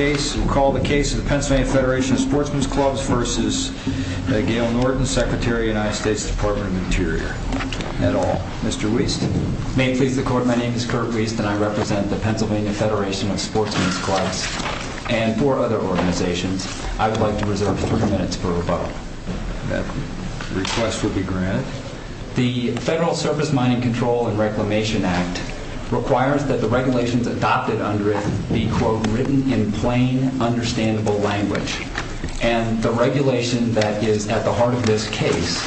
I call the case of the Pennsylvania Federation of Sportsmen's Clubs v. Gail Norton, Secretary of the United States Department of the Interior, et al. Mr. Wiest May it please the Court, my name is Kurt Wiest and I represent the Pennsylvania Federation of Sportsmen's Clubs and four other organizations. I would like to reserve 30 minutes for rebuttal. That request will be granted. The Federal Surface Mining Control and Reclamation Act requires that the regulations adopted under it be, quote, written in plain, understandable language. And the regulation that is at the heart of this case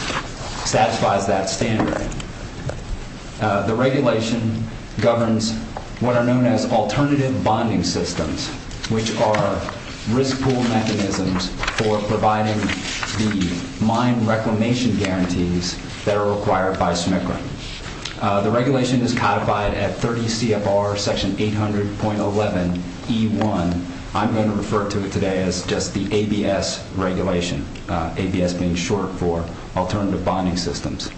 satisfies that standard. The regulation governs what are known as alternative bonding systems, which are risk pool mechanisms for providing the mine reclamation guarantees that are required by SMCRA. The regulation is codified at 30 CFR section 800.11E1. I'm going to refer to it today as just the ABS regulation, ABS being short for alternative bonding systems.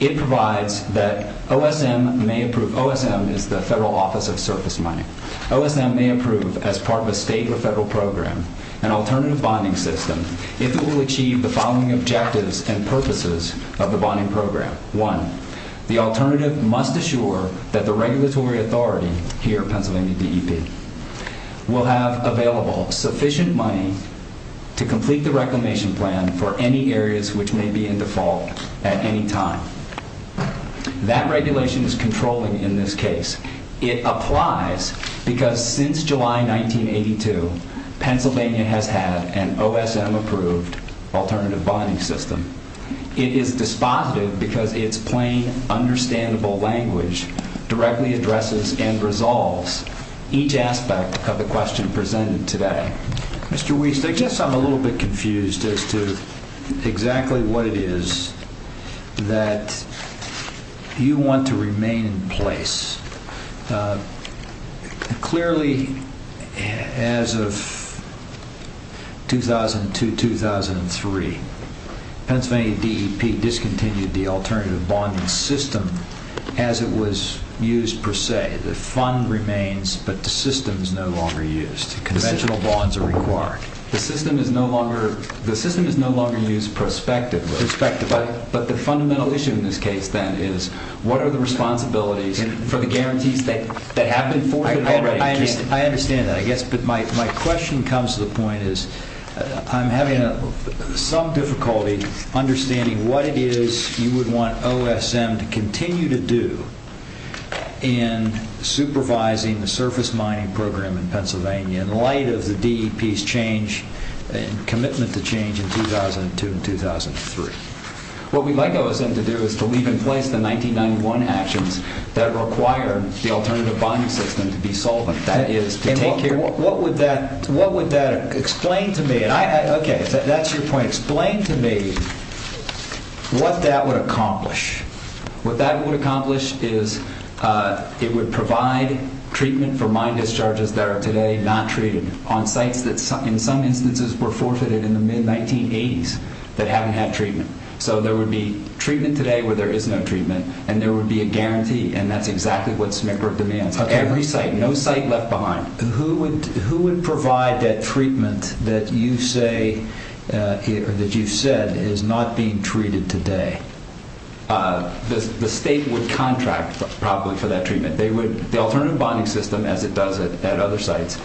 It provides that OSM may approve, OSM is the Federal Office of Surface Mining. OSM may approve as part of a state or federal program an alternative bonding system if it will achieve the following objectives and purposes of the bonding program. One, the alternative must assure that the regulatory authority here at Pennsylvania DEP will have available sufficient money to complete the reclamation plan for any areas which may be in default at any time. That regulation is controlling in this case. It applies because since July 1982, Pennsylvania has had an OSM approved alternative bonding system. It is dispositive because it's plain, understandable language directly addresses and resolves each aspect of the question presented today. Mr. Wiese, I guess I'm a little bit confused as to exactly what it is that you want to remain in place. Clearly, as of 2002-2003, Pennsylvania DEP discontinued the alternative bonding system as it was used per se. The fund remains, but the system is no longer used. Conventional bonds are required. The system is no longer used prospectively. But the fundamental issue in this case, then, is what are the responsibilities for the guarantees that happen for the bonding? I understand that, I guess, but my question comes to the point is I'm having some difficulty understanding what it is you would want OSM to continue to do in supervising the surface mining program in Pennsylvania in light of the DEP's commitment to change in 2002 and 2003. What we'd like OSM to do is to leave in place the 1991 actions that require the alternative bonding system to be solvent, that is, to take care... What would that explain to me? Okay, that's your point. Explain to me what that would accomplish. What that would accomplish is it would provide treatment for mine discharges that are today not treated on sites that, in some instances, were forfeited in the mid-1980s that haven't had treatment. So there would be treatment today where there is no treatment, and there would be a guarantee, and that's exactly what Smigrub demands. Every site, no site left behind. Who would provide that treatment that you've said is not being treated today? The state would contract probably for that treatment. The alternative bonding system, as it does at other sites,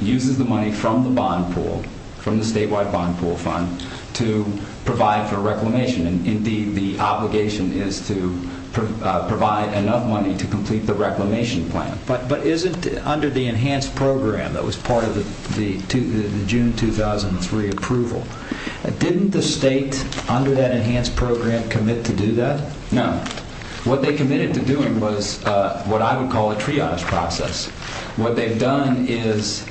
uses the money from the bond pool, from the statewide bond pool fund, to provide for reclamation. Indeed, the obligation is to provide enough money to complete the reclamation plan. But isn't it under the enhanced program that was part of the June 2003 approval? Didn't the state, under that enhanced program, commit to do that? No. What they committed to doing was what I would call a triage process. What they've done is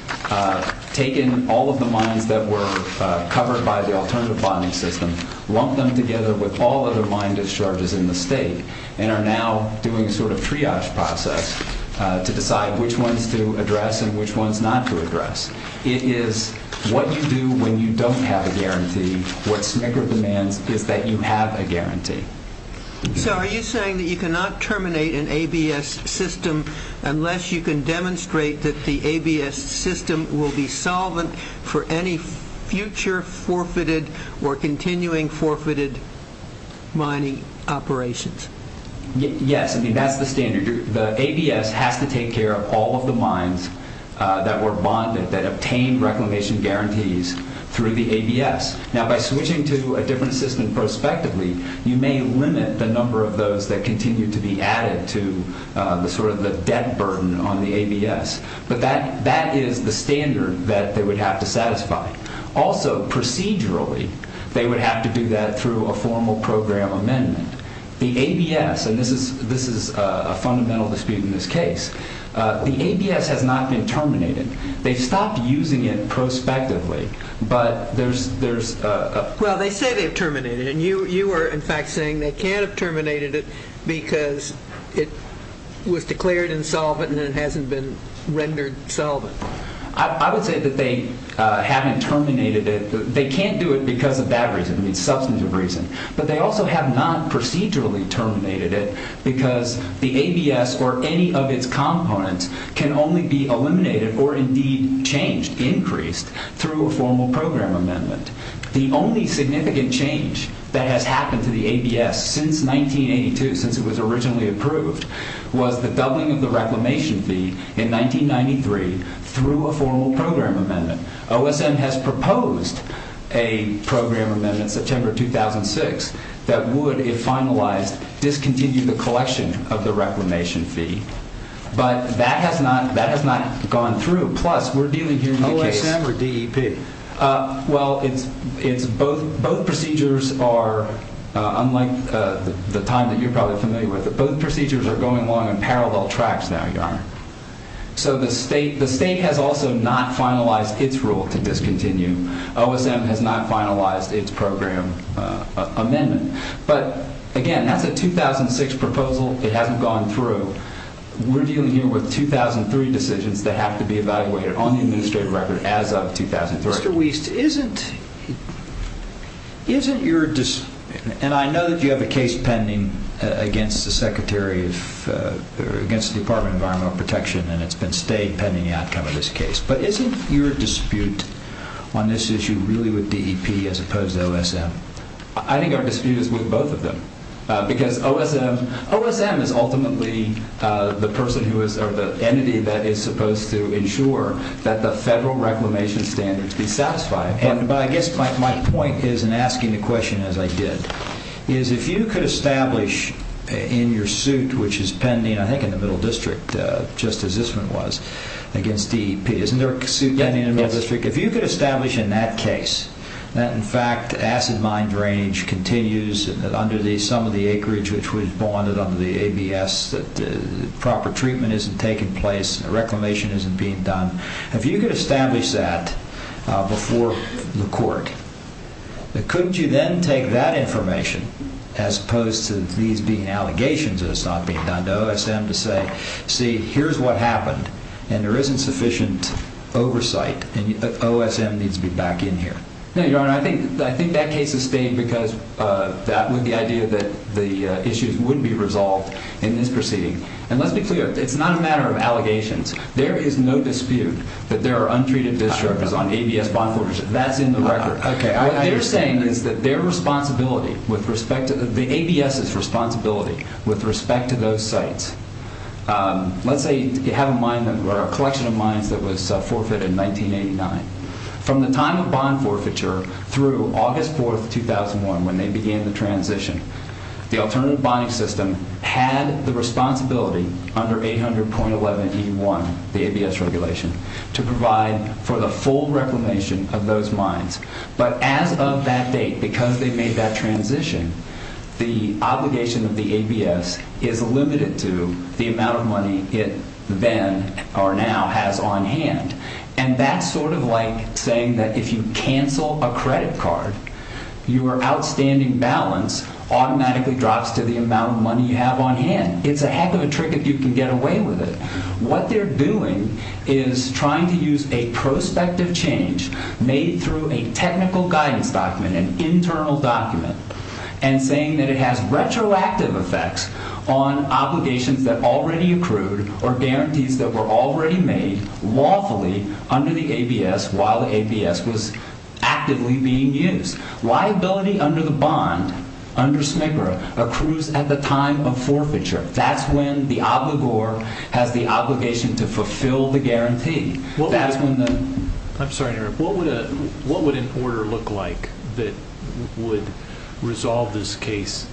taken all of the mines that were covered by the alternative bonding system, lumped them together with all of the mine discharges in the state, and are now doing a sort of triage process to decide which ones to address and which ones not to address. It is what you do when you don't have a guarantee. What Smigrub demands is that you have a guarantee. So are you saying that you cannot terminate an ABS system unless you can demonstrate that the ABS system will be solvent for any future forfeited or continuing forfeited mining operations? Yes. I mean, that's the standard. The ABS has to take care of all of the mines that were bonded, that obtained reclamation guarantees through the ABS. Now, by switching to a different system prospectively, you may limit the number of those that continue to be added to sort of the debt burden on the ABS. But that is the standard that they would have to satisfy. Also, procedurally, they would have to do that through a formal program amendment. The ABS, and this is a fundamental dispute in this case, the ABS has not been terminated. They stopped using it prospectively, but there's… Well, they say they've terminated it. And you are, in fact, saying they can't have terminated it because it was declared insolvent and it hasn't been rendered solvent. I would say that they haven't terminated it. They can't do it because of that reason, the substantive reason. But they also have not procedurally terminated it because the ABS or any of its components can only be eliminated or indeed changed, increased, through a formal program amendment. The only significant change that has happened to the ABS since 1982, since it was originally approved, was the doubling of the reclamation fee in 1993 through a formal program amendment. OSM has proposed a program amendment in September 2006 that would, if finalized, discontinue the collection of the reclamation fee. But that has not gone through. Plus, we're dealing here with a case… OSM or DEP? Well, it's both. Both procedures are, unlike the time that you're probably familiar with, both procedures are going along in parallel tracks now, Your Honor. So the state has also not finalized its rule to discontinue. OSM has not finalized its program amendment. But, again, that's a 2006 proposal. It hasn't gone through. We're dealing here with 2003 decisions that have to be evaluated on the administrative record as of 2003. Mr. Wiest, isn't your… and I know that you have a case pending against the Secretary of… against the Department of Environmental Protection, and it's been stayed pending the outcome of this case. But isn't your dispute on this issue really with DEP as opposed to OSM? I think our dispute is with both of them. Because OSM is ultimately the person who is… or the entity that is supposed to ensure that the federal reclamation standards be satisfied. But I guess my point is in asking the question, as I did, is if you could establish in your suit, which is pending, I think, in the Middle District, just as this one was, against DEP. Isn't there a suit pending in the Middle District? Yes. If you could establish in that case that, in fact, acid mine drainage continues under the sum of the acreage, which was bonded under the ABS, that proper treatment isn't taking place, reclamation isn't being done. If you could establish that before the court, couldn't you then take that information, as opposed to these being allegations that it's not being done, to OSM to say, see, here's what happened. And there isn't sufficient oversight, and OSM needs to be back in here. No, Your Honor, I think that case is staying because of the idea that the issues wouldn't be resolved in this proceeding. And let's be clear, it's not a matter of allegations. There is no dispute that there are untreated disruptors on ABS bondholders. That's in the record. Okay, I understand. What they're saying is that their responsibility with respect to… the ABS's responsibility with respect to those sites. Let's say you have a collection of mines that was forfeited in 1989. From the time of bond forfeiture through August 4th, 2001, when they began the transition, the alternative bonding system had the responsibility under 800.11E1, the ABS regulation, to provide for the full reclamation of those mines. But as of that date, because they made that transition, the obligation of the ABS is limited to the amount of money it then, or now, has on hand. And that's sort of like saying that if you cancel a credit card, your outstanding balance automatically drops to the amount of money you have on hand. It's a heck of a trick if you can get away with it. What they're doing is trying to use a prospective change made through a technical guidance document, an internal document, and saying that it has retroactive effects on obligations that already accrued or guarantees that were already made lawfully under the ABS while the ABS was actively being used. Liability under the bond, under SMICRA, accrues at the time of forfeiture. That's when the obligor has the obligation to fulfill the guarantee. What would an order look like that would resolve this case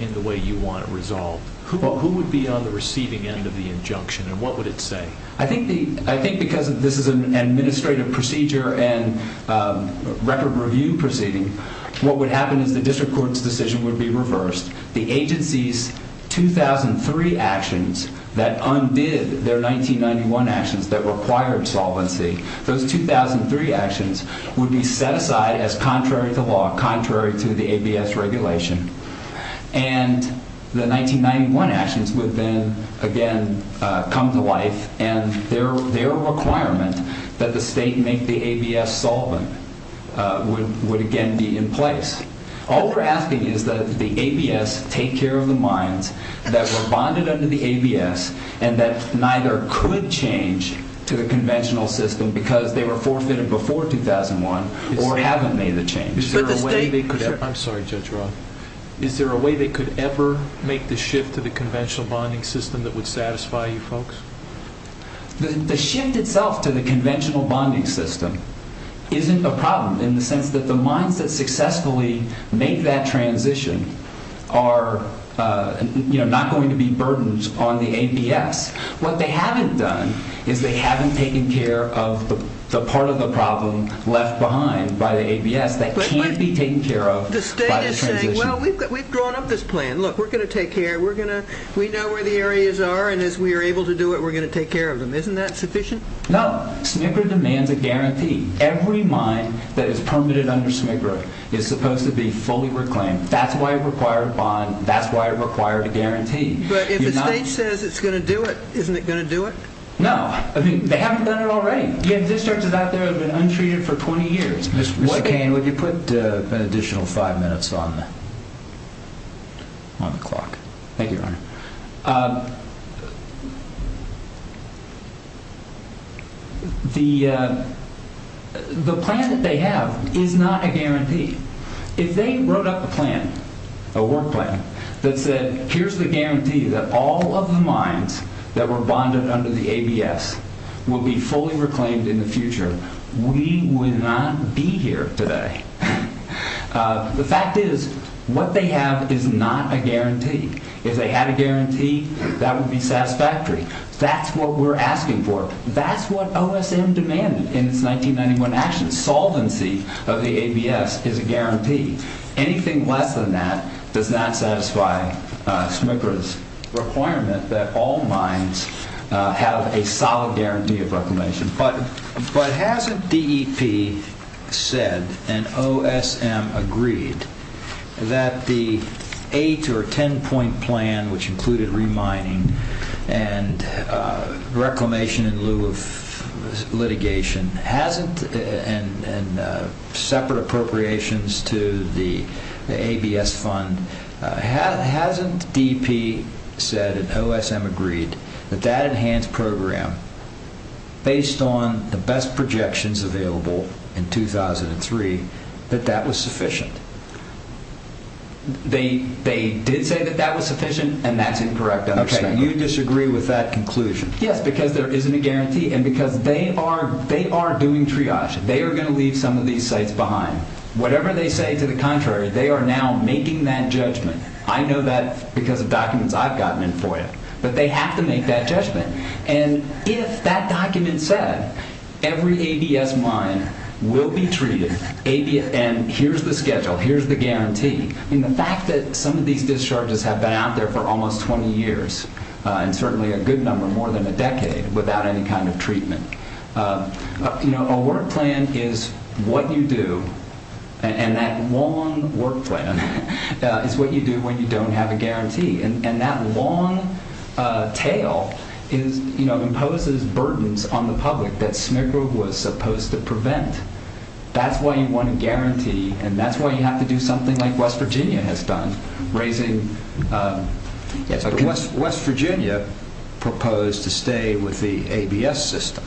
in the way you want it resolved? Who would be on the receiving end of the injunction and what would it say? I think because this is an administrative procedure and record review proceeding, what would happen is the district court's decision would be reversed. The agency's 2003 actions that undid their 1991 actions that required solvency, those 2003 actions would be set aside as contrary to law, contrary to the ABS regulation. And the 1991 actions would then again come to life and their requirement that the state make the ABS solvent would again be in place. All we're asking is that the ABS take care of the mines that were bonded under the ABS and that neither could change to the conventional system because they were forfeited before 2001 or haven't made the change. I'm sorry, Judge Roth. Is there a way they could ever make the shift to the conventional bonding system that would satisfy you folks? The shift itself to the conventional bonding system isn't a problem in the sense that the mines that successfully made that transition are not going to be burdened on the ABS. What they haven't done is they haven't taken care of the part of the problem left behind by the ABS that can't be taken care of by the transition. Well, we've grown up this plan. Look, we're going to take care. We know where the areas are and as we are able to do it, we're going to take care of them. Isn't that sufficient? No. SMICRA demands a guarantee. Every mine that is permitted under SMICRA is supposed to be fully reclaimed. That's why it required a bond. That's why it required a guarantee. But if the state says it's going to do it, isn't it going to do it? No. I mean, they haven't done it already. You have districts out there that have been untreated for 20 years. Mr. Cain, would you put an additional five minutes on the clock? The plan that they have is not a guarantee. If they wrote up a plan, a work plan, that said, here's the guarantee that all of the mines that were bonded under the ABS will be fully reclaimed in the future, we would not be here today. The fact is, what they have is not a guarantee. If they had a guarantee, that would be satisfactory. That's what we're asking for. That's what OSM demanded in its 1991 action. Solvency of the ABS is a guarantee. Anything less than that does not satisfy SMICRA's requirement that all mines have a solid guarantee of reclamation. But hasn't DEP said, and OSM agreed, that the 8- or 10-point plan, which included remining and reclamation in lieu of litigation, and separate appropriations to the ABS fund, hasn't DEP said, and OSM agreed, that that enhanced program, based on the best projections available in 2003, that that was sufficient? They did say that that was sufficient, and that's incorrect. Okay, you disagree with that conclusion. Yes, because there isn't a guarantee, and because they are doing triage. They are going to leave some of these sites behind. Whatever they say to the contrary, they are now making that judgment. I know that because of documents I've gotten in FOIA. But they have to make that judgment. And if that document said, every ABS mine will be treated, and here's the schedule, here's the guarantee, the fact that some of these discharges have been out there for almost 20 years, and certainly a good number, more than a decade, without any kind of treatment. A work plan is what you do, and that long work plan is what you do when you don't have a guarantee. And that long tail imposes burdens on the public that SMICRA was supposed to prevent. That's why you want a guarantee, and that's why you have to do something like West Virginia has done. West Virginia proposed to stay with the ABS system.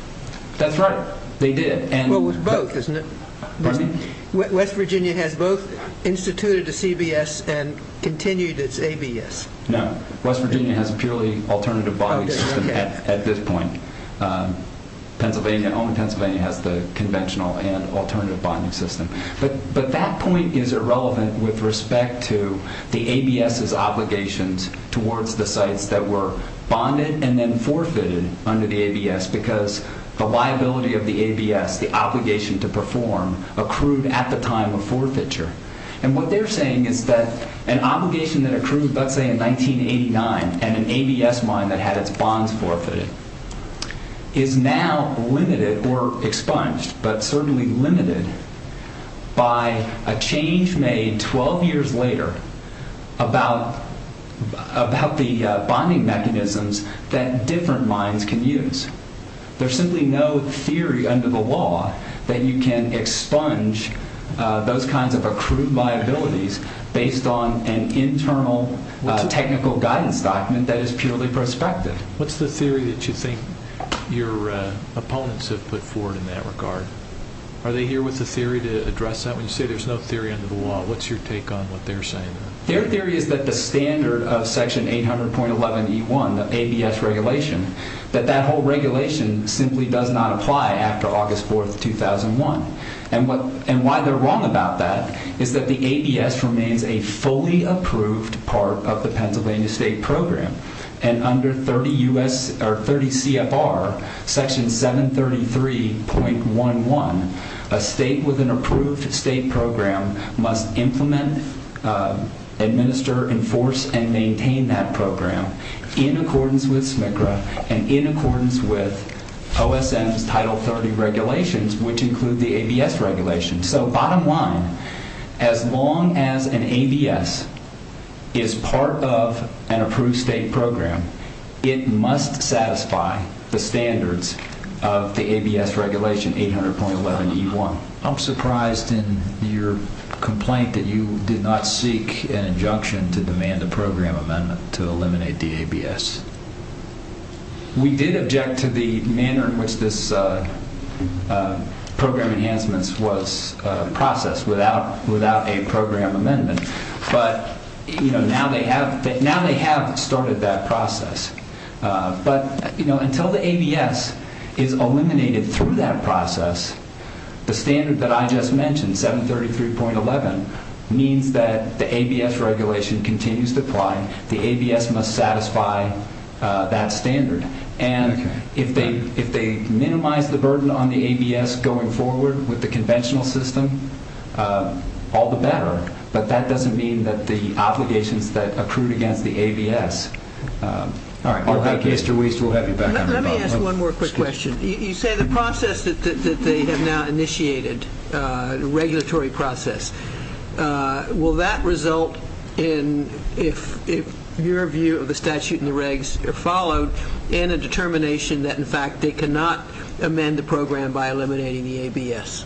That's right. They did. Well, with both, isn't it? Pardon me? West Virginia has both instituted a CBS and continued its ABS. No. West Virginia has a purely alternative body system at this point. Pennsylvania, only Pennsylvania has the conventional and alternative bonding system. But that point is irrelevant with respect to the ABS's obligations towards the sites that were bonded and then forfeited under the ABS, because the liability of the ABS, the obligation to perform, accrued at the time of forfeiture. And what they're saying is that an obligation that accrued, let's say, in 1989, and an ABS mine that had its bonds forfeited, is now limited or expunged, but certainly limited, by a change made 12 years later about the bonding mechanisms that different mines can use. There's simply no theory under the law that you can expunge those kinds of accrued liabilities based on an internal technical guidance document that is purely prospective. What's the theory that you think your opponents have put forward in that regard? Are they here with a theory to address that? When you say there's no theory under the law, what's your take on what they're saying? Their theory is that the standard of Section 800.11E1, the ABS regulation, that that whole regulation simply does not apply after August 4th, 2001. And why they're wrong about that is that the ABS remains a fully approved part of the Pennsylvania State Program. And under 30 CFR, Section 733.11, a state with an approved state program must implement, administer, enforce, and maintain that program in accordance with SMCRA and in accordance with OSM's Title 30 regulations, which include the ABS regulation. So bottom line, as long as an ABS is part of an approved state program, it must satisfy the standards of the ABS regulation, 800.11E1. I'm surprised in your complaint that you did not seek an injunction to demand a program amendment to eliminate the ABS. We did object to the manner in which this program enhancement was processed without a program amendment. But now they have started that process. But until the ABS is eliminated through that process, the standard that I just mentioned, 733.11, means that the ABS regulation continues to apply. The ABS must satisfy that standard. And if they minimize the burden on the ABS going forward with the conventional system, all the better. But that doesn't mean that the obligations that accrued against the ABS aren't that good. Mr. Wiest, we'll have you back on the phone. Let me ask one more quick question. You say the process that they have now initiated, the regulatory process, will that result in, if your view of the statute and the regs are followed, in a determination that, in fact, they cannot amend the program by eliminating the ABS?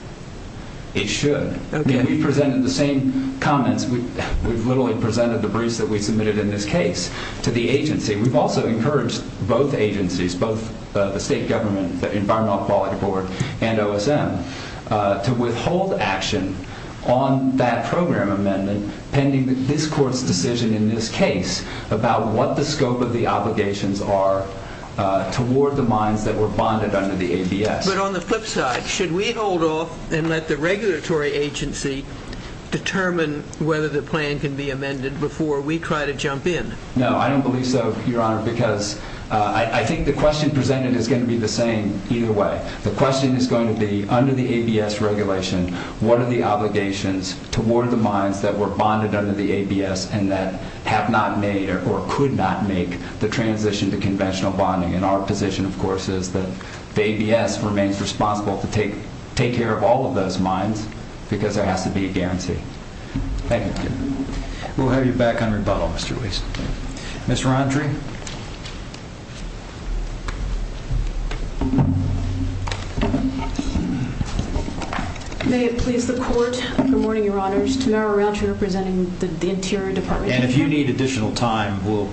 It should. Again, we presented the same comments. We've literally presented the briefs that we submitted in this case to the agency. We've also encouraged both agencies, both the state government, the Environmental Quality Board, and OSM, to withhold action on that program amendment pending this court's decision in this case about what the scope of the obligations are toward the mines that were bonded under the ABS. But on the flip side, should we hold off and let the regulatory agency determine whether the plan can be amended before we try to jump in? No, I don't believe so, Your Honor, because I think the question presented is going to be the same either way. The question is going to be, under the ABS regulation, what are the obligations toward the mines that were bonded under the ABS and that have not made or could not make the transition to conventional bonding? And our position, of course, is that the ABS remains responsible to take care of all of those mines because there has to be a guarantee. Thank you. We'll have you back on rebuttal, Mr. Weiss. Ms. Rountree? May it please the Court, good morning, Your Honors. Tamara Rountree representing the Interior Department. And if you need additional time, we'll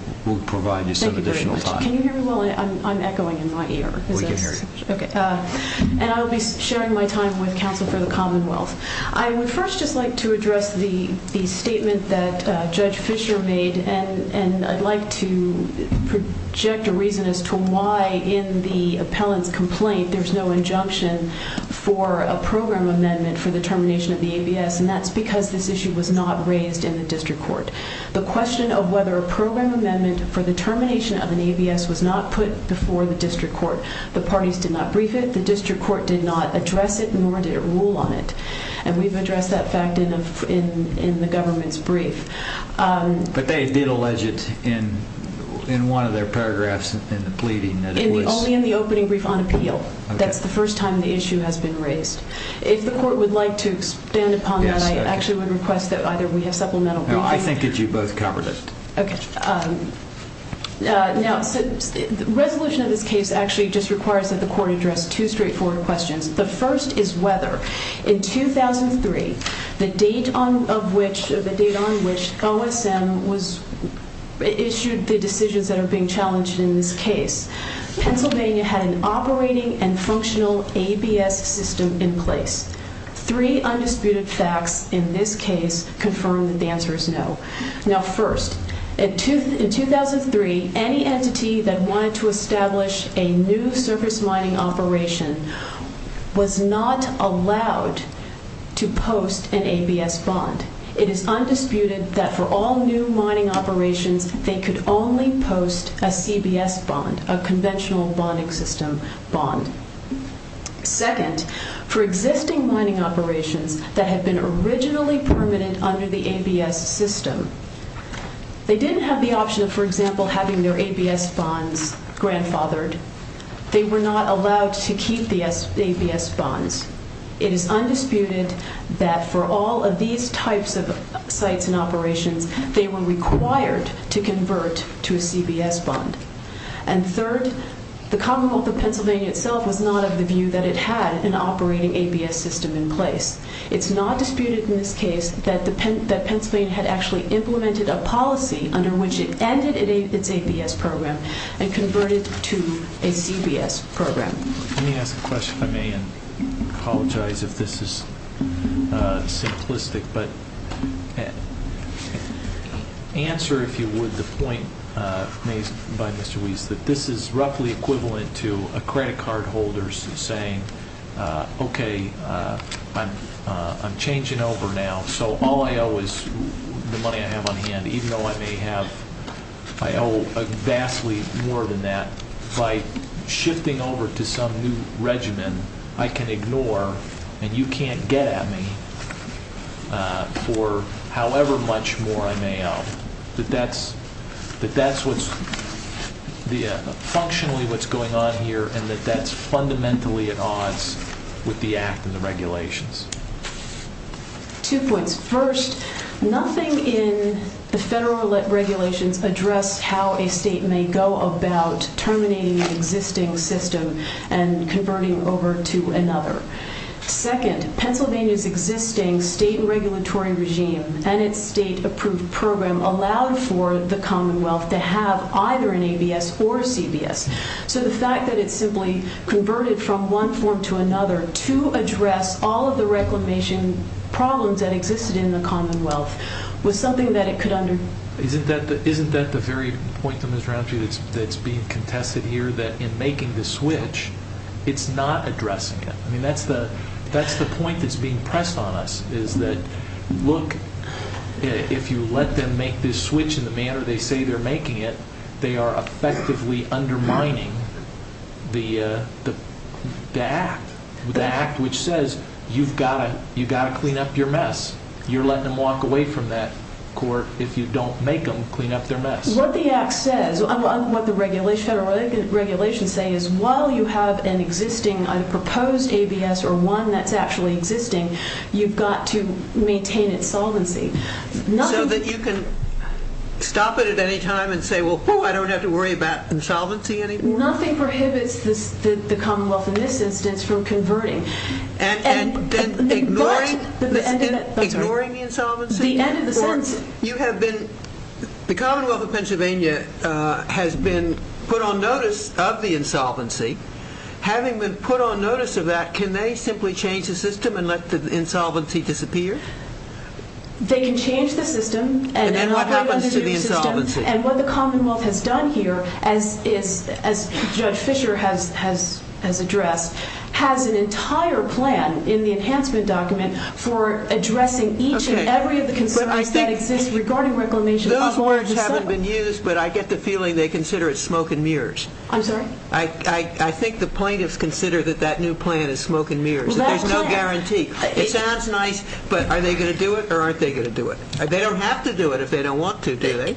provide you some additional time. Thank you very much. Can you hear me well? I'm echoing in my ear. We can hear you. Okay. And I will be sharing my time with Counsel for the Commonwealth. I would first just like to address the statement that Judge Fischer made, and I'd like to project a reason as to why in the appellant's complaint there's no injunction for a program amendment for the termination of the ABS, and that's because this issue was not raised in the district court. The question of whether a program amendment for the termination of an ABS was not put before the district court, the parties did not brief it, the district court did not address it, nor did it rule on it. And we've addressed that fact in the government's brief. But they did allege it in one of their paragraphs in the pleading that it was. Only in the opening brief on appeal. That's the first time the issue has been raised. If the court would like to expand upon that, I actually would request that either we have supplemental briefing. No, I think that you both covered it. Okay. Now, the resolution of this case actually just requires that the court address two straightforward questions. The first is whether in 2003, the date on which OSM issued the decisions that are being challenged in this case, Pennsylvania had an operating and functional ABS system in place. Three undisputed facts in this case confirm that the answer is no. Now, first, in 2003, any entity that wanted to establish a new surface mining operation was not allowed to post an ABS bond. It is undisputed that for all new mining operations, they could only post a CBS bond, a conventional bonding system bond. Second, for existing mining operations that had been originally permanent under the ABS system, they didn't have the option of, for example, having their ABS bonds grandfathered. They were not allowed to keep the ABS bonds. It is undisputed that for all of these types of sites and operations, they were required to convert to a CBS bond. And third, the Commonwealth of Pennsylvania itself was not of the view that it had an operating ABS system in place. It's not disputed in this case that Pennsylvania had actually implemented a policy under which it ended its ABS program and converted to a CBS program. Let me ask a question, if I may, and apologize if this is simplistic. But answer, if you would, the point made by Mr. Weiss, that this is roughly equivalent to a credit card holder saying, okay, I'm changing over now, so all I owe is the money I have on hand, even though I may owe vastly more than that. By shifting over to some new regimen, I can ignore, and you can't get at me for however much more I may owe. That that's functionally what's going on here, and that that's fundamentally at odds with the Act and the regulations. Two points. First, nothing in the federal regulations address how a state may go about terminating an existing system and converting over to another. Second, Pennsylvania's existing state regulatory regime and its state-approved program allowed for the Commonwealth to have either an ABS or a CBS. So the fact that it simply converted from one form to another to address all of the reclamation problems that existed in the Commonwealth was something that it could under... Isn't that the very point, Ms. Ramsey, that's being contested here, that in making this switch, it's not addressing it? I mean, that's the point that's being pressed on us, is that, look, if you let them make this switch in the manner they say they're making it, they are effectively undermining the Act, the Act which says you've got to clean up your mess. You're letting them walk away from that court if you don't make them clean up their mess. What the Act says, what the federal regulations say is while you have an existing proposed ABS or one that's actually existing, you've got to maintain insolvency. So that you can stop it at any time and say, well, I don't have to worry about insolvency anymore? Nothing prohibits the Commonwealth in this instance from converting. Ignoring the insolvency? The end of the sentence. The Commonwealth of Pennsylvania has been put on notice of the insolvency. Having been put on notice of that, can they simply change the system and let the insolvency disappear? They can change the system. And then what happens to the insolvency? And what the Commonwealth has done here, as Judge Fischer has addressed, has an entire plan in the enhancement document for addressing each and every of the concerns that exist regarding reclamation. Those words haven't been used, but I get the feeling they consider it smoke and mirrors. I'm sorry? I think the plaintiffs consider that that new plan is smoke and mirrors. There's no guarantee. It sounds nice, but are they going to do it or aren't they going to do it? They don't have to do it if they don't want to, do they?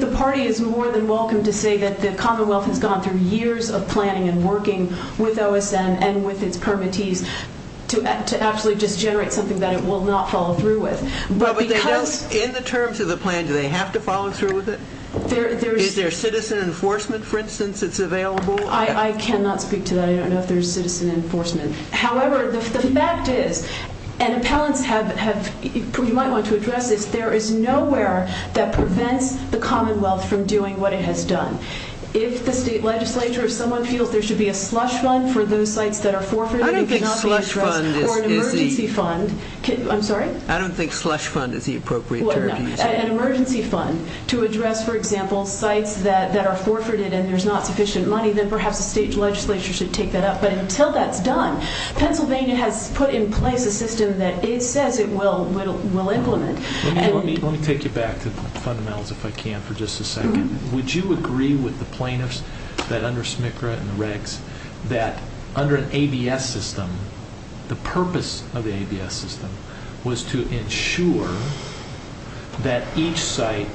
The party is more than welcome to say that the Commonwealth has gone through years of planning and working with OSN and with its permittees to actually just generate something that it will not follow through with. In the terms of the plan, do they have to follow through with it? Is there citizen enforcement, for instance, that's available? I cannot speak to that. I don't know if there's citizen enforcement. However, the fact is, and appellants have, you might want to address this, there is nowhere that prevents the Commonwealth from doing what it has done. If the state legislature, if someone feels there should be a slush fund for those sites that are forfeited and cannot be addressed, or an emergency fund, I'm sorry? I don't think slush fund is the appropriate term. An emergency fund to address, for example, sites that are forfeited and there's not sufficient money, then perhaps the state legislature should take that up. But until that's done, Pennsylvania has put in place a system that it says it will implement. Let me take you back to the fundamentals, if I can, for just a second. Would you agree with the plaintiffs that under SMCRA and the regs, that under an ABS system, the purpose of the ABS system was to ensure that each site,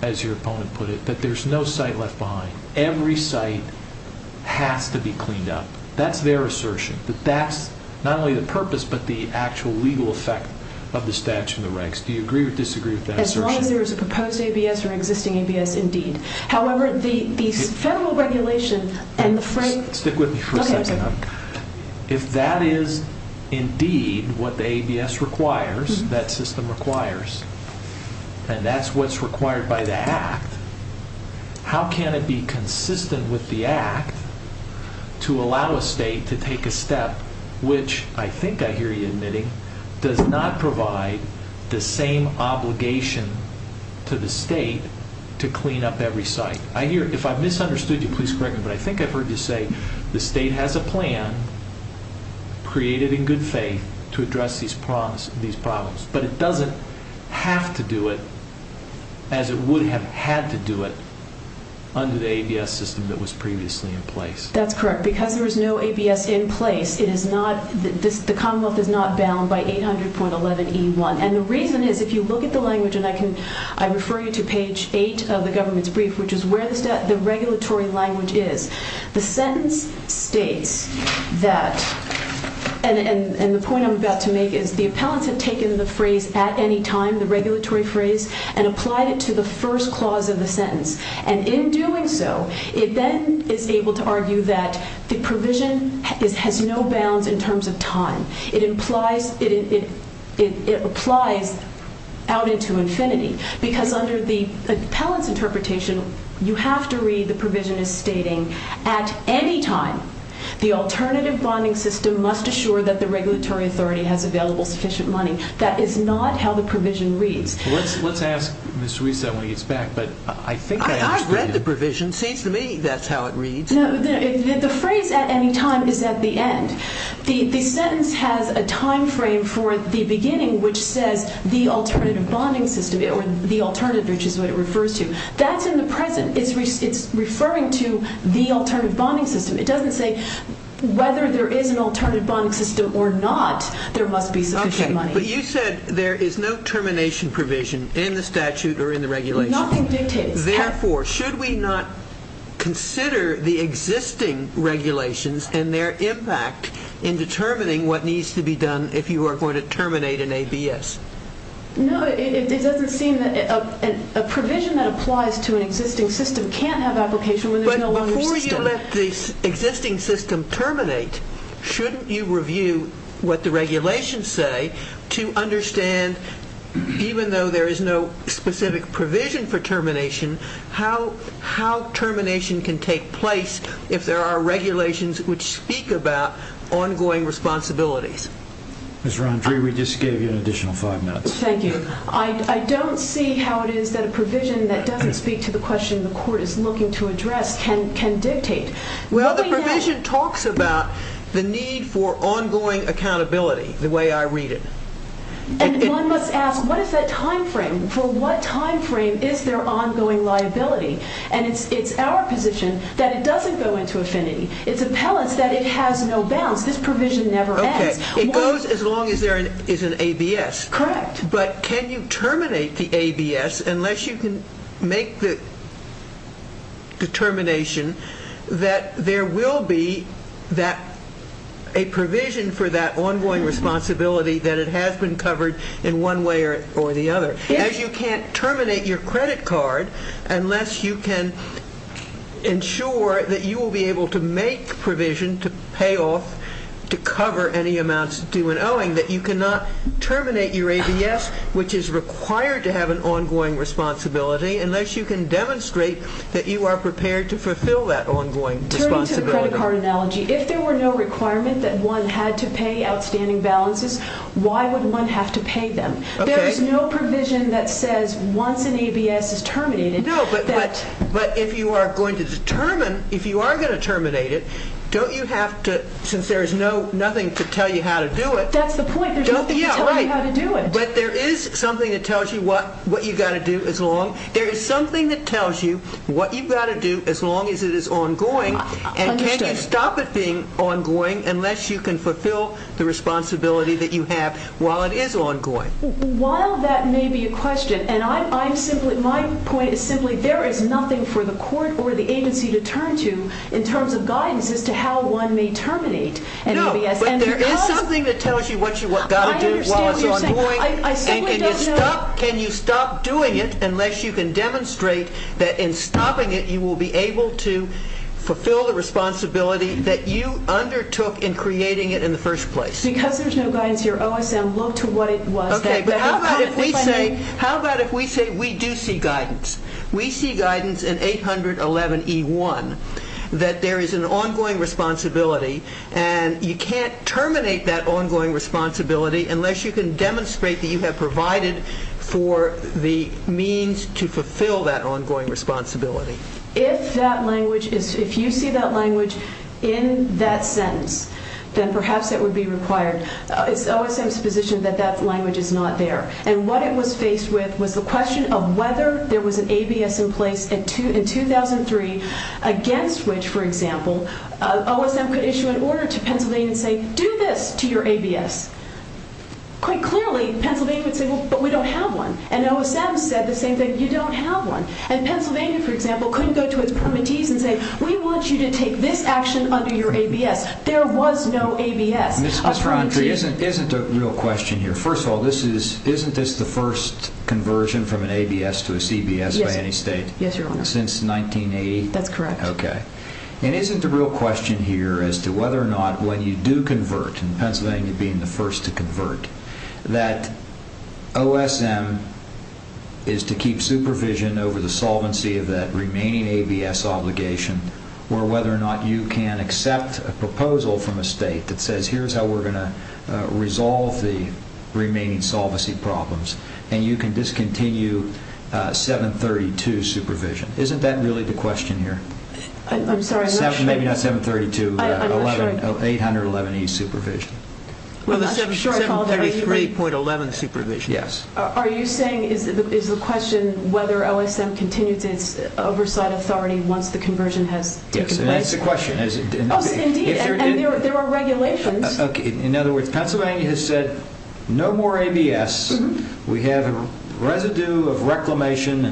as your opponent put it, that there's no site left behind. Every site has to be cleaned up. That's their assertion, that that's not only the purpose, but the actual legal effect of the statute and the regs. Do you agree or disagree with that assertion? As long as there is a proposed ABS or existing ABS, indeed. However, the federal regulation and the frame... Stick with me for a second. If that is indeed what the ABS requires, that system requires, and that's what's required by the act, how can it be consistent with the act to allow a state to take a step which, I think I hear you admitting, does not provide the same obligation to the state to clean up every site? If I've misunderstood you, please correct me. But I think I've heard you say the state has a plan, created in good faith, to address these problems. But it doesn't have to do it as it would have had to do it under the ABS system that was previously in place. That's correct. Because there was no ABS in place, the Commonwealth is not bound by 800.11E1. And the reason is, if you look at the language, and I refer you to page 8 of the government's brief, which is where the regulatory language is, the sentence states that... And the point I'm about to make is the appellants have taken the phrase at any time, the regulatory phrase, and applied it to the first clause of the sentence. And in doing so, it then is able to argue that the provision has no bounds in terms of time. It applies out into infinity. Because under the appellant's interpretation, you have to read the provision as stating, at any time, the alternative bonding system must assure that the regulatory authority has available sufficient money. That is not how the provision reads. Let's ask Ms. Ruiz that when he gets back. I've read the provision. Seems to me that's how it reads. No, the phrase at any time is at the end. The sentence has a time frame for the beginning, which says the alternative bonding system, or the alternative, which is what it refers to. That's in the present. It's referring to the alternative bonding system. It doesn't say whether there is an alternative bonding system or not, there must be sufficient money. Okay, but you said there is no termination provision in the statute or in the regulation. Nothing dictates. Therefore, should we not consider the existing regulations and their impact in determining what needs to be done if you are going to terminate an ABS? No, it doesn't seem that a provision that applies to an existing system can't have application when there is no longer system. But before you let the existing system terminate, shouldn't you review what the regulations say to understand, even though there is no specific provision for termination, how termination can take place if there are regulations which speak about ongoing responsibilities? Ms. Rondry, we just gave you an additional five minutes. Thank you. I don't see how it is that a provision that doesn't speak to the question the court is looking to address can dictate. Well, the provision talks about the need for ongoing accountability, the way I read it. And one must ask, what is that time frame? For what time frame is there ongoing liability? And it's our position that it doesn't go into affinity. It's appellant's that it has no bounds. This provision never ends. Okay, it goes as long as there is an ABS. Correct. But can you terminate the ABS unless you can make the determination that there will be a provision for that ongoing responsibility that it has been covered in one way or the other? Yes. As you can't terminate your credit card unless you can ensure that you will be able to make provision to pay off, to cover any amounts due and owing, that you cannot terminate your ABS, which is required to have an ongoing responsibility, unless you can demonstrate that you are prepared to fulfill that ongoing responsibility. Turning to the credit card analogy, if there were no requirement that one had to pay outstanding balances, why would one have to pay them? Okay. There is no provision that says once an ABS is terminated that... No, but if you are going to determine, if you are going to terminate it, don't you have to, since there is nothing to tell you how to do it... That's the point. There's nothing to tell you how to do it. But there is something that tells you what you've got to do as long... There is something that tells you what you've got to do as long as it is ongoing. And can you stop it being ongoing unless you can fulfill the responsibility that you have while it is ongoing? While that may be a question, and my point is simply there is nothing for the court or the agency to turn to in terms of guidance as to how one may terminate an ABS. No, but there is something that tells you what you've got to do while it's ongoing. I simply don't know... And can you stop doing it unless you can demonstrate that in stopping it you will be able to fulfill the responsibility that you undertook in creating it in the first place? Because there is no guidance here, OSM looked to what it was that... Okay, but how about if we say we do see guidance? We see guidance in 811E1 that there is an ongoing responsibility and you can't terminate that ongoing responsibility unless you can demonstrate that you have provided for the means to fulfill that ongoing responsibility. If you see that language in that sentence, then perhaps it would be required. It's OSM's position that that language is not there. And what it was faced with was the question of whether there was an ABS in place in 2003 against which, for example, OSM could issue an order to Pennsylvania and say, do this to your ABS. Quite clearly, Pennsylvania would say, well, but we don't have one. And OSM said the same thing, you don't have one. And Pennsylvania, for example, couldn't go to its permittees and say, we want you to take this action under your ABS. There was no ABS. Ms. Farntree, isn't a real question here. First of all, isn't this the first conversion from an ABS to a CBS by any state? Yes, Your Honor. Since 1980? That's correct. Okay. And isn't the real question here as to whether or not when you do convert, and Pennsylvania being the first to convert, that OSM is to keep supervision over the solvency of that remaining ABS obligation or whether or not you can accept a proposal from a state that says, here's how we're going to resolve the remaining solvency problems, and you can discontinue 732 supervision. Isn't that really the question here? I'm sorry, I'm not sure. Maybe not 732, 811E supervision. Well, the 733.11 supervision. Yes. Are you saying is the question whether OSM continues its oversight authority once the conversion has taken place? Yes, and that's the question. Indeed, and there are regulations. Okay. In other words, Pennsylvania has said no more ABS. We have a residue of reclamation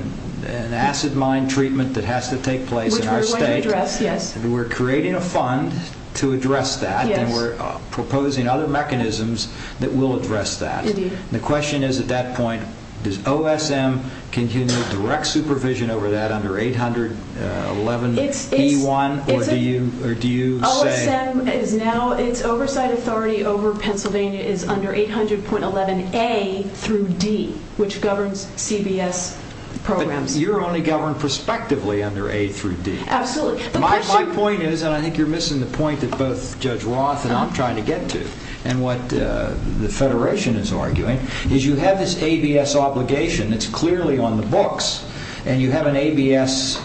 and acid mine treatment that has to take place in our state. Which we're going to address, yes. We're creating a fund to address that, and we're proposing other mechanisms that will address that. Indeed. The question is at that point, does OSM continue direct supervision over that under 811E1, or do you say? OSM is now, its oversight authority over Pennsylvania is under 800.11A through D, which governs CBS programs. But you're only governed prospectively under A through D. Absolutely. My point is, and I think you're missing the point that both Judge Roth and I'm trying to get to, and what the Federation is arguing, is you have this ABS obligation that's clearly on the books, and you have ABS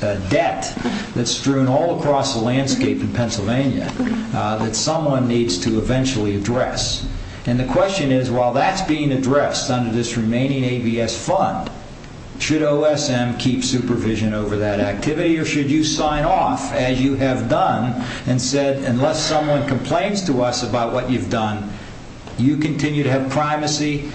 debt that's strewn all across the landscape in Pennsylvania that someone needs to eventually address. And the question is, while that's being addressed under this remaining ABS fund, should OSM keep supervision over that activity, or should you sign off, as you have done, and said, unless someone complains to us about what you've done, you continue to have primacy,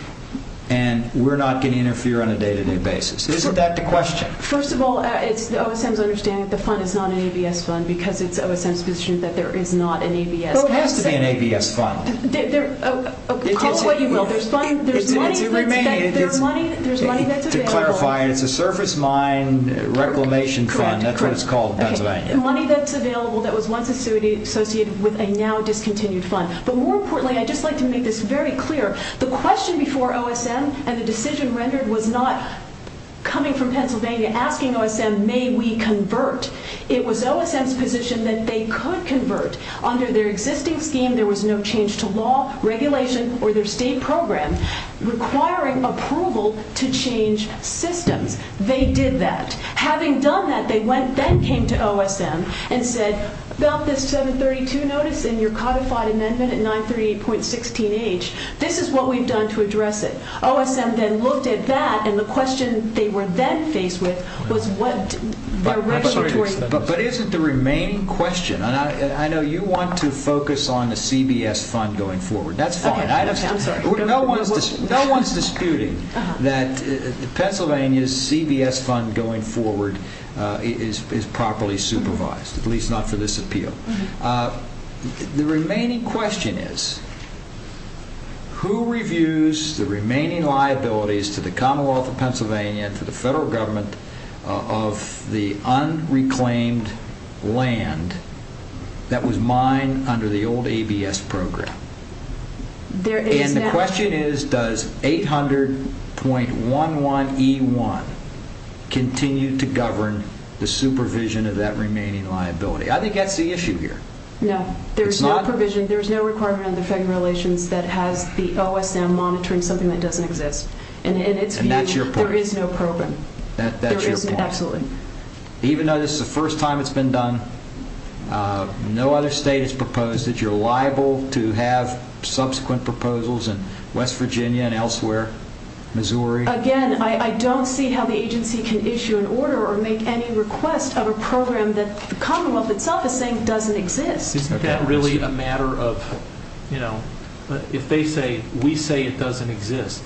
and we're not going to interfere on a day-to-day basis? Isn't that the question? First of all, it's OSM's understanding that the fund is not an ABS fund, because it's OSM's position that there is not an ABS fund. Well, it has to be an ABS fund. Call it what you will. There's money that's available. To clarify, it's a surface mine reclamation fund. Correct, correct. That's what it's called in Pennsylvania. Money that's available that was once associated with a now discontinued fund. But more importantly, I'd just like to make this very clear, the question before OSM and the decision rendered was not coming from Pennsylvania asking OSM, may we convert? It was OSM's position that they could convert. Under their existing scheme, there was no change to law, regulation, or their state program requiring approval to change systems. They did that. Having done that, they then came to OSM and said, about this 732 notice in your codified amendment at 938.16h, this is what we've done to address it. OSM then looked at that, and the question they were then faced with was what their regulatory status was. But isn't the remaining question, and I know you want to focus on the CBS fund going forward. That's fine. I'm sorry. No one's disputing that Pennsylvania's CBS fund going forward is properly supervised, at least not for this appeal. The remaining question is, who reviews the remaining liabilities to the Commonwealth of Pennsylvania and to the federal government of the unreclaimed land that was mined under the old ABS program? And the question is, does 800.11e1 continue to govern the supervision of that remaining liability? I think that's the issue here. No. There's no provision. There's no requirement under federal relations that has the OSM monitoring something that doesn't exist. And in its view, there is no program. That's your point. Absolutely. Even though this is the first time it's been done, no other state has proposed that you're liable to have subsequent proposals in West Virginia and elsewhere, Missouri. Again, I don't see how the agency can issue an order or make any request of a program that the Commonwealth itself is saying doesn't exist. Isn't that really a matter of, you know, if we say it doesn't exist,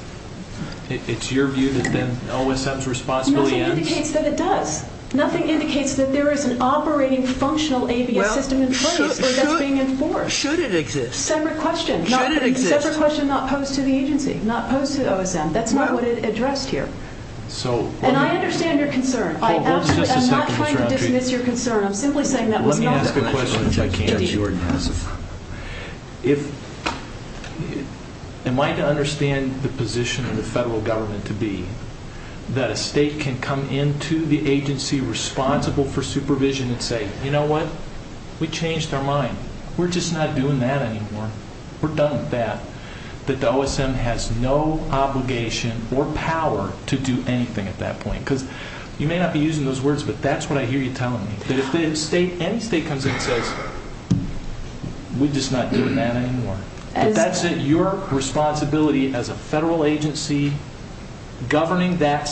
it's your view that then OSM's responsibility ends? Nothing indicates that it does. Nothing indicates that there is an operating functional ABS system in place that's being enforced. Should it exist? Separate question. Should it exist? Separate question not posed to the agency, not posed to OSM. That's not what it addressed here. And I understand your concern. I'm not trying to dismiss your concern. I'm simply saying that was not the question. Let me ask a question if I can, if you wouldn't mind. Am I to understand the position of the federal government to be that a state can come into the agency responsible for supervision and say, you know what, we changed our mind. We're just not doing that anymore. We're done with that. That the OSM has no obligation or power to do anything at that point. Because you may not be using those words, but that's what I hear you telling me, that if any state comes in and says, we're just not doing that anymore. Your responsibility as a federal agency governing that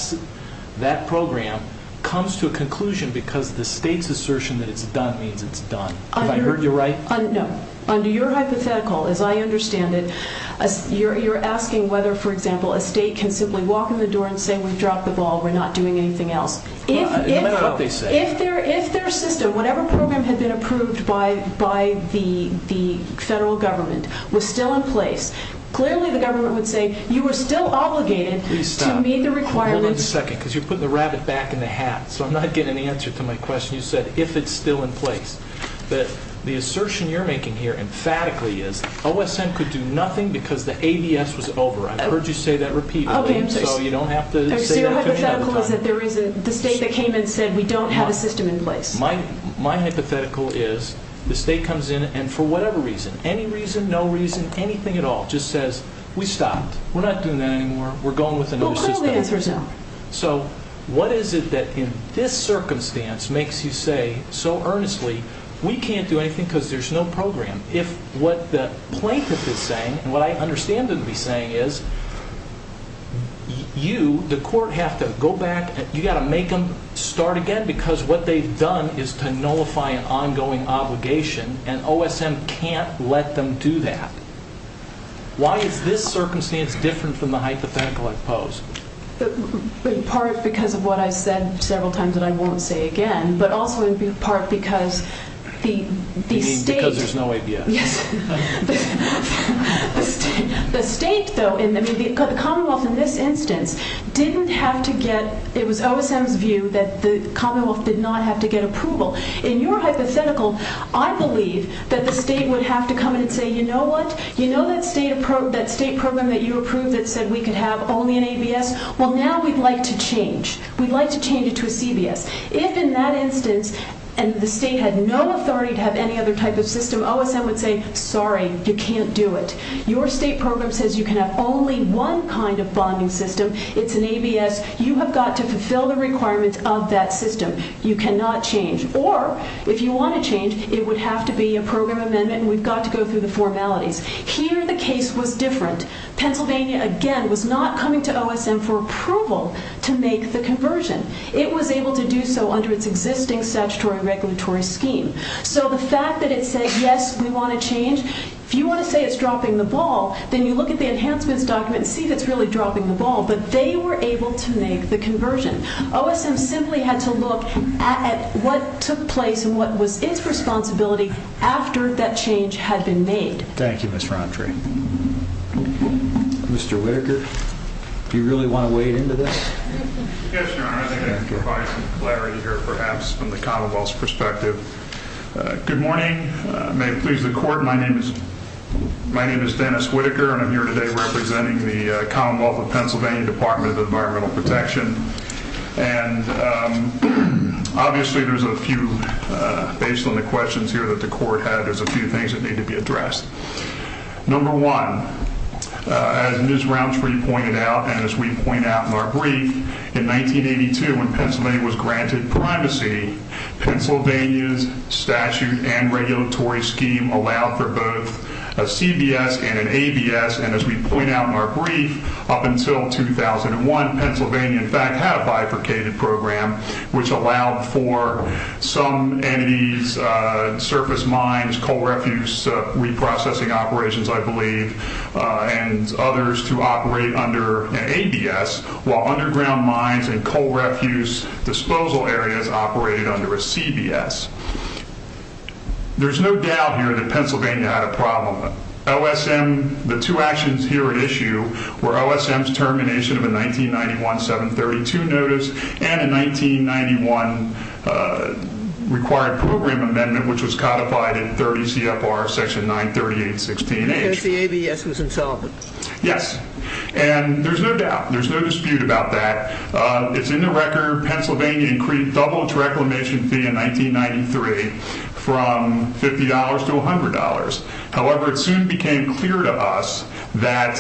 program comes to a conclusion because the state's assertion that it's done means it's done. Have I heard you right? No. Under your hypothetical, as I understand it, you're asking whether, for example, a state can simply walk in the door and say we've dropped the ball, we're not doing anything else. No matter what they say. If their system, whatever program had been approved by the federal government, was still in place, clearly the government would say you were still obligated to meet the requirements. Please stop. Hold on a second because you're putting the rabbit back in the hat. So I'm not getting an answer to my question. You said if it's still in place. But the assertion you're making here emphatically is OSM could do nothing because the ABS was over. I've heard you say that repeatedly. Okay, I'm sorry. So you don't have to say that to me all the time. Your hypothetical is that the state that came in said we don't have a system in place. My hypothetical is the state comes in and for whatever reason, any reason, no reason, anything at all, just says we stopped. We're not doing that anymore. We're going with another system. Well, clearly the answer is no. So what is it that in this circumstance makes you say so earnestly we can't do anything because there's no program? If what the plaintiff is saying and what I understand them to be saying is you, the court, have to go back, you've got to make them start again because what they've done is to nullify an ongoing obligation and OSM can't let them do that. Why is this circumstance different from the hypothetical I propose? In part because of what I've said several times and I won't say again, but also in part because the state You mean because there's no ABS. Yes. The state, though, the Commonwealth in this instance didn't have to get, it was OSM's view that the Commonwealth did not have to get approval. In your hypothetical, I believe that the state would have to come in and say, You know what? You know that state program that you approved that said we could have only an ABS? Well, now we'd like to change. We'd like to change it to a CBS. If in that instance the state had no authority to have any other type of system, OSM would say, Sorry, you can't do it. Your state program says you can have only one kind of bonding system. It's an ABS. You have got to fulfill the requirements of that system. You cannot change. Or if you want to change, it would have to be a program amendment and we've got to go through the formalities. Here the case was different. Pennsylvania, again, was not coming to OSM for approval to make the conversion. It was able to do so under its existing statutory regulatory scheme. So the fact that it said, Yes, we want to change. If you want to say it's dropping the ball, then you look at the enhancements document and see if it's really dropping the ball. But they were able to make the conversion. OSM simply had to look at what took place and what was its responsibility after that change had been made. Thank you, Ms. Frantre. Mr. Whitaker, do you really want to wade into this? Yes, Your Honor. I think I can provide some clarity here perhaps from the Commonwealth's perspective. Good morning. May it please the Court. My name is Dennis Whitaker and I'm here today representing the Commonwealth of Pennsylvania Department of Environmental Protection. And obviously there's a few, based on the questions here that the Court had, there's a few things that need to be addressed. Number one, as Ms. Frantre pointed out and as we point out in our brief, in 1982 when Pennsylvania was granted primacy, Pennsylvania's statute and regulatory scheme allowed for both a CBS and an ABS. And as we point out in our brief, up until 2001, Pennsylvania in fact had a bifurcated program which allowed for some entities, surface mines, coal refuse reprocessing operations, I believe, and others to operate under an ABS while underground mines and coal refuse disposal areas operated under a CBS. There's no doubt here that Pennsylvania had a problem. OSM, the two actions here at issue were OSM's termination of a 1991-732 notice and a 1991 required program amendment which was codified in 30 CFR section 938-16H. Because the ABS was insolvent. Yes, and there's no doubt. There's no dispute about that. It's in the record. Pennsylvania increased double its reclamation fee in 1993 from $50 to $100. However, it soon became clear to us that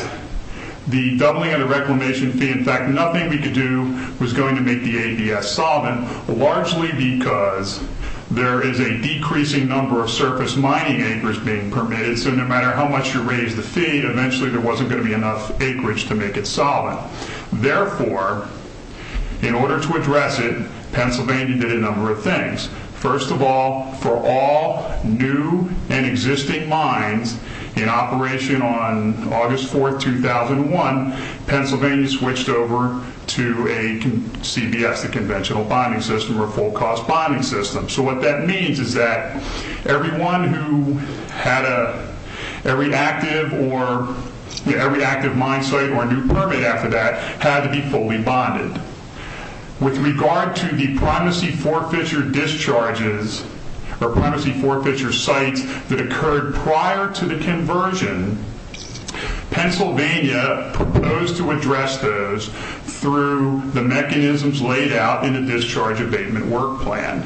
the doubling of the reclamation fee, in fact, nothing we could do was going to make the ABS solvent largely because there is a decreasing number of surface mining acres being permitted. So no matter how much you raise the fee, eventually there wasn't going to be enough acreage to make it solvent. Therefore, in order to address it, Pennsylvania did a number of things. First of all, for all new and existing mines in operation on August 4, 2001, Pennsylvania switched over to a CBS, the conventional bonding system, or full-cost bonding system. So what that means is that everyone who had a reactive mine site or a new permit after that had to be fully bonded. With regard to the primacy forfeiture discharges or primacy forfeiture sites that occurred prior to the conversion, Pennsylvania proposed to address those through the mechanisms laid out in the discharge abatement work plan.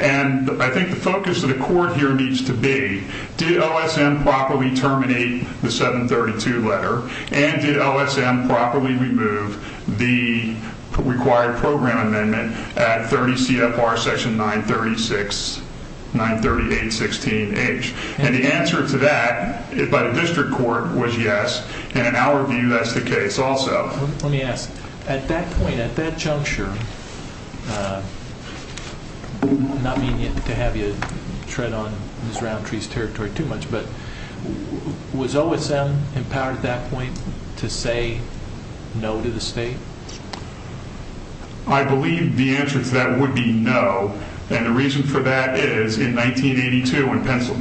And I think the focus of the court here needs to be, did OSM properly terminate the 732 letter and did OSM properly remove the required program amendment at 30 CFR section 93816H? And the answer to that by the district court was yes, and in our view that's the case also. Let me ask. At that point, at that juncture, not meaning to have you tread on Ms. Roundtree's territory too much, but was OSM empowered at that point to say no to the state? I believe the answer to that would be no, and the reason for that is in 1982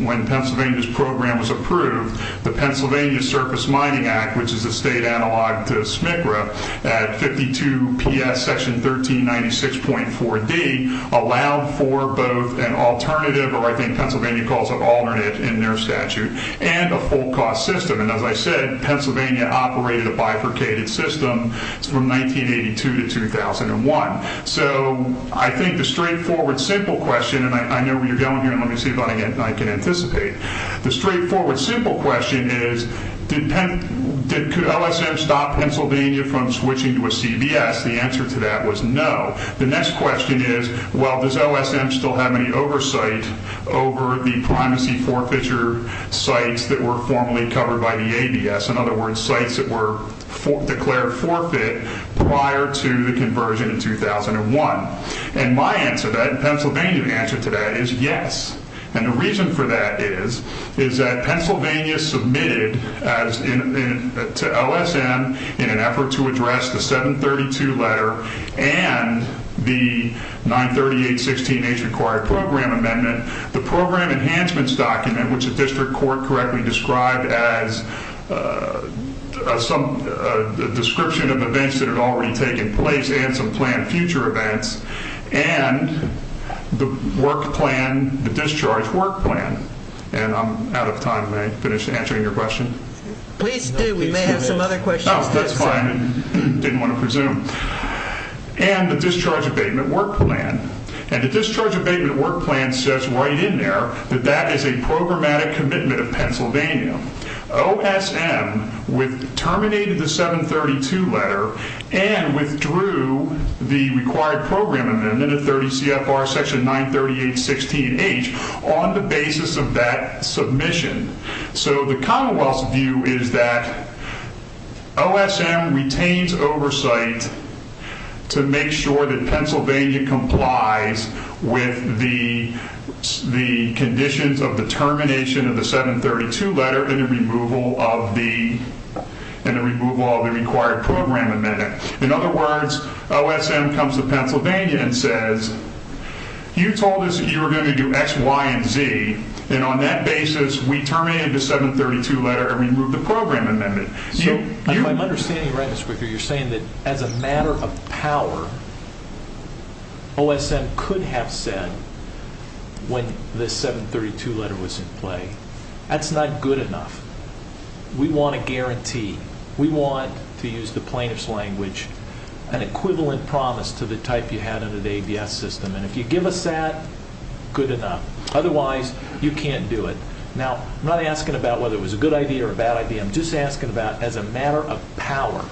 when Pennsylvania's program was approved, the Pennsylvania Surface Mining Act, which is a state analog to SMCRA at 52PS section 1396.4D, allowed for both an alternative, or I think Pennsylvania calls it alternate in their statute, and a full cost system. And as I said, Pennsylvania operated a bifurcated system from 1982 to 2001. So I think the straightforward simple question, and I know where you're going here and let me see if I can anticipate. The straightforward simple question is, did OSM stop Pennsylvania from switching to a CBS? The answer to that was no. The next question is, well, does OSM still have any oversight over the primacy forfeiture sites that were formerly covered by the ABS? In other words, sites that were declared forfeit prior to the conversion in 2001. And my answer to that, and Pennsylvania's answer to that, is yes. And the reason for that is that Pennsylvania submitted to OSM in an effort to address the 732 letter and the 938-16H required program amendment, the program enhancements document, which the district court correctly described as a description of events that had already taken place and some planned future events, and the work plan, the discharge work plan. And I'm out of time. May I finish answering your question? Please do. We may have some other questions. Oh, that's fine. I didn't want to presume. And the discharge abatement work plan. And the discharge abatement work plan says right in there that that is a programmatic commitment of Pennsylvania. OSM terminated the 732 letter and withdrew the required program amendment of 30 CFR section 938-16H on the basis of that submission. So the Commonwealth's view is that OSM retains oversight to make sure that Pennsylvania complies with the conditions of the termination of the 732 letter and the removal of the required program amendment. In other words, OSM comes to Pennsylvania and says, you told us that you were going to do X, Y, and Z, and on that basis we terminated the 732 letter and removed the program amendment. If I'm understanding right, Mr. Quicker, you're saying that as a matter of power, OSM could have said when the 732 letter was in play, that's not good enough. We want a guarantee. We want, to use the plaintiff's language, an equivalent promise to the type you had under the ABS system. And if you give us that, good enough. Otherwise, you can't do it. Now, I'm not asking about whether it was a good idea or a bad idea. I'm just asking about as a matter of power,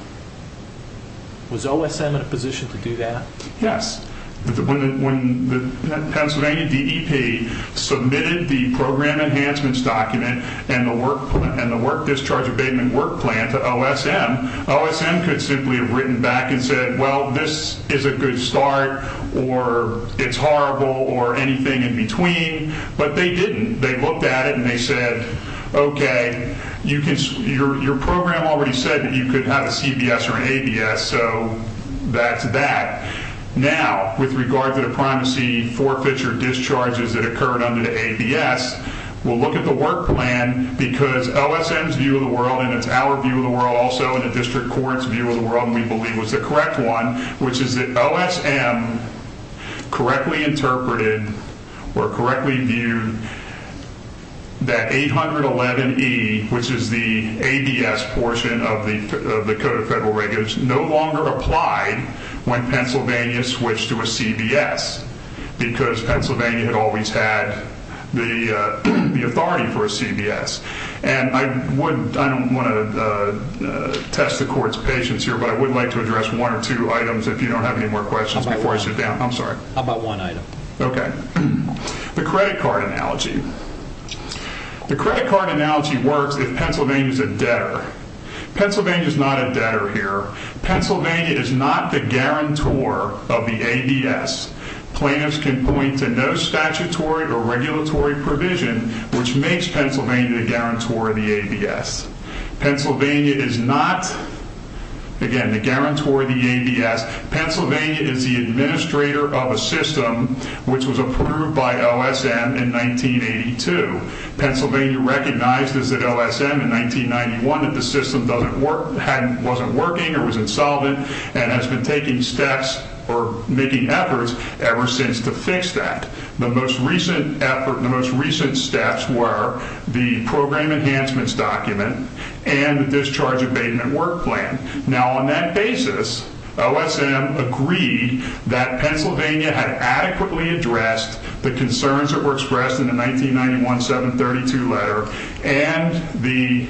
was OSM in a position to do that? Yes. When the Pennsylvania DEP submitted the program enhancements document and the discharge abatement work plan to OSM, OSM could simply have written back and said, well, this is a good start, or it's horrible, or anything in between. But they didn't. They looked at it and they said, okay, your program already said that you could have a CBS or an ABS, so that's that. Now, with regard to the primacy forfeiture discharges that occurred under the ABS, we'll look at the work plan because OSM's view of the world, and it's our view of the world also, and the district court's view of the world, we believe was the correct one, which is that OSM correctly interpreted or correctly viewed that 811E, which is the ABS portion of the Code of Federal Regulations, no longer applied when Pennsylvania switched to a CBS because Pennsylvania had always had the authority for a CBS. And I don't want to test the court's patience here, but I would like to address one or two items if you don't have any more questions before I sit down. I'm sorry. How about one item? Okay. The credit card analogy. The credit card analogy works if Pennsylvania's a debtor. Pennsylvania's not a debtor here. Pennsylvania is not the guarantor of the ABS. Plaintiffs can point to no statutory or regulatory provision which makes Pennsylvania the guarantor of the ABS. Pennsylvania is not, again, the guarantor of the ABS. Pennsylvania is the administrator of a system which was approved by OSM in 1982. Pennsylvania recognized as an OSM in 1991 that the system wasn't working or was insolvent and has been taking steps or making efforts ever since to fix that. The most recent effort, the most recent steps were the program enhancements document and the discharge abatement work plan. Now, on that basis, OSM agreed that Pennsylvania had adequately addressed the concerns that were expressed in the 1991 732 letter and the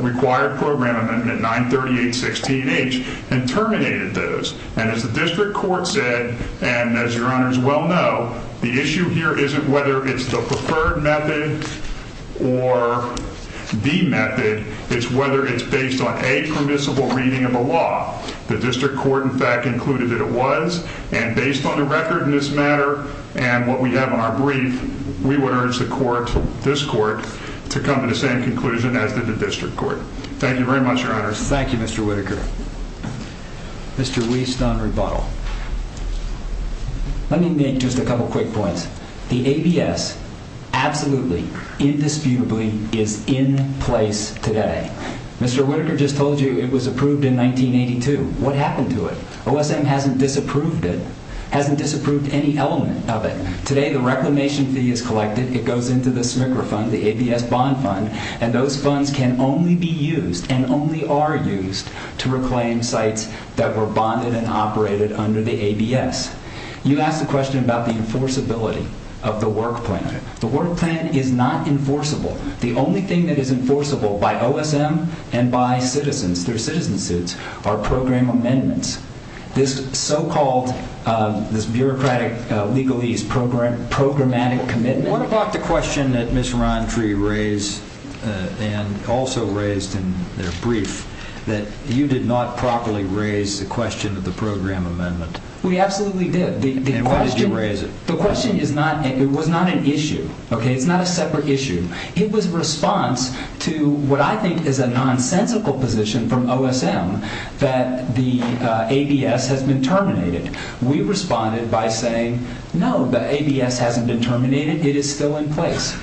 required program amendment 93816H and terminated those. And as the district court said, and as your honors well know, the issue here isn't whether it's the preferred method or the method. It's whether it's based on a permissible reading of the law. The district court, in fact, concluded that it was. And based on the record in this matter and what we have on our brief, we would urge the court, this court, to come to the same conclusion as did the district court. Thank you very much, your honors. Thank you, Mr. Whitaker. Mr. Wieston-Rebuttal. Let me make just a couple quick points. The ABS absolutely, indisputably is in place today. Mr. Whitaker just told you it was approved in 1982. What happened to it? OSM hasn't disapproved it, hasn't disapproved any element of it. Today the reclamation fee is collected. It goes into the SMCRA fund, the ABS bond fund, and those funds can only be used and only are used to reclaim sites that were bonded and operated under the ABS. You asked a question about the enforceability of the work plan. The work plan is not enforceable. The only thing that is enforceable by OSM and by citizens, through citizen suits, are program amendments. This so-called, this bureaucratic legalese programmatic commitment. What about the question that Ms. Rountree raised and also raised in their brief, that you did not properly raise the question of the program amendment? We absolutely did. And why did you raise it? The question is not, it was not an issue. It's not a separate issue. It was a response to what I think is a nonsensical position from OSM that the ABS has been terminated. We responded by saying, no, the ABS hasn't been terminated. It is still in place.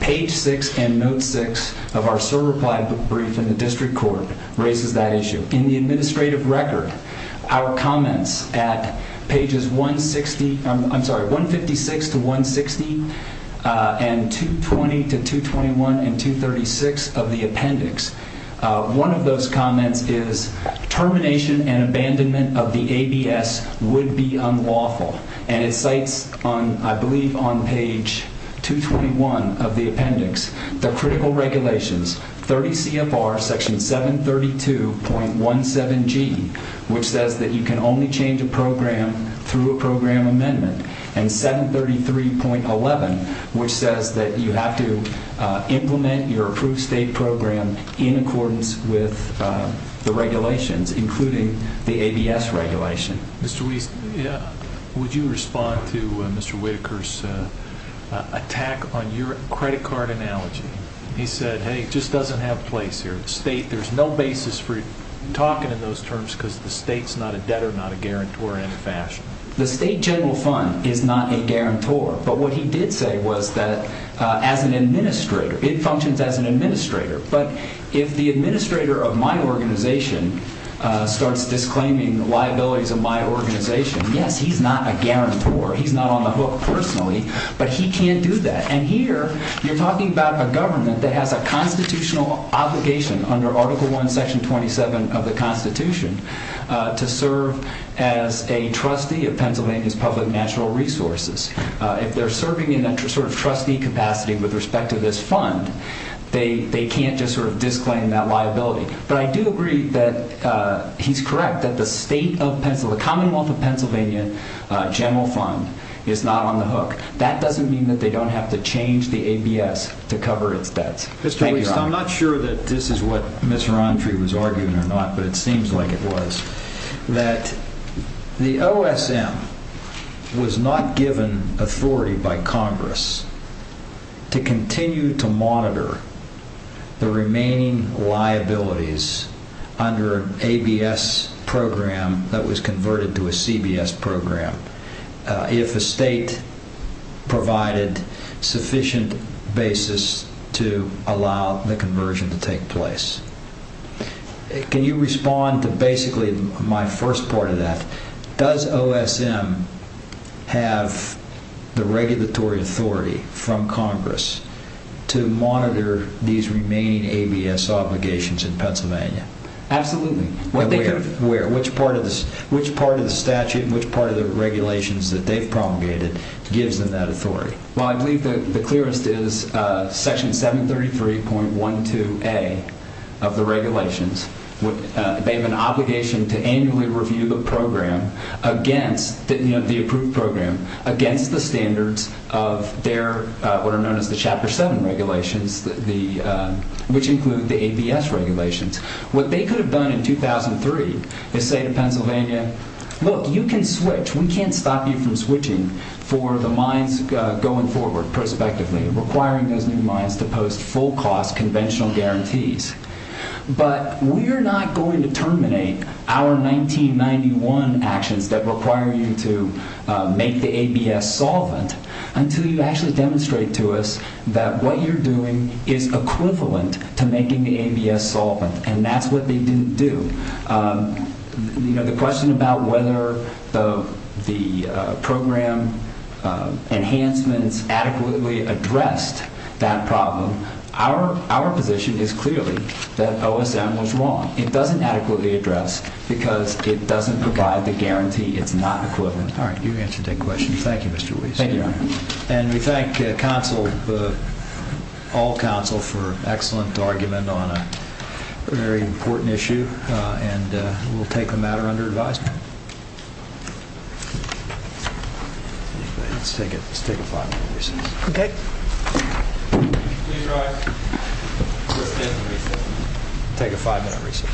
Page 6 and note 6 of our SIR reply brief in the district court raises that issue. In the administrative record, our comments at pages 160, I'm sorry, 156 to 160, and 220 to 221 and 236 of the appendix, one of those comments is termination and abandonment of the ABS would be unlawful. And it cites on, I believe, on page 221 of the appendix the critical regulations, 30 CFR section 732.17G, which says that you can only change a program through a program amendment, and 733.11, which says that you have to implement your approved state program in accordance with the regulations, including the ABS regulation. Mr. Wheat, would you respond to Mr. Whitaker's attack on your credit card analogy? He said, hey, it just doesn't have place here. The state, there's no basis for talking in those terms because the state's not a debtor, not a guarantor in any fashion. The state general fund is not a guarantor, but what he did say was that as an administrator, it functions as an administrator, but if the administrator of my organization starts disclaiming the liabilities of my organization, yes, he's not a guarantor. He's not on the hook personally, but he can't do that. And here you're talking about a government that has a constitutional obligation under Article I, Section 27 of the Constitution to serve as a trustee of Pennsylvania's public natural resources. If they're serving in that sort of trustee capacity with respect to this fund, they can't just sort of disclaim that liability. But I do agree that he's correct that the state of Pennsylvania, the Commonwealth of Pennsylvania general fund is not on the hook. That doesn't mean that they don't have to change the ABS to cover its debts. Thank you, Ron. Mr. Wheat, I'm not sure that this is what Ms. Rountree was arguing or not, but it seems like it was, that the OSM was not given authority by Congress to continue to monitor the remaining liabilities under an ABS program that was converted to a CBS program if the state provided sufficient basis to allow the conversion to take place. Can you respond to basically my first part of that? Does OSM have the regulatory authority from Congress to monitor these remaining ABS obligations in Pennsylvania? Absolutely. Where? Which part of the statute and which part of the regulations that they've promulgated gives them that authority? Well, I believe that the clearest is Section 733.12a of the regulations. They have an obligation to annually review the approved program against the standards of what are known as the Chapter 7 regulations, which include the ABS regulations. What they could have done in 2003 is say to Pennsylvania, look, you can switch, we can't stop you from switching for the mines going forward prospectively, requiring those new mines to post full cost conventional guarantees. But we're not going to terminate our 1991 actions that require you to make the ABS solvent until you actually demonstrate to us that what you're doing is equivalent to making the ABS solvent, and that's what they didn't do. The question about whether the program enhancements adequately addressed that problem, our position is clearly that OSM was wrong. It doesn't adequately address because it doesn't provide the guarantee it's not equivalent. All right, you answered that question. Thank you, Mr. Weiss. Thank you. And we thank all counsel for an excellent argument on a very important issue, and we'll take the matter under advisement. Let's take a five-minute recess. Okay. Please rise. We'll take a five-minute recess.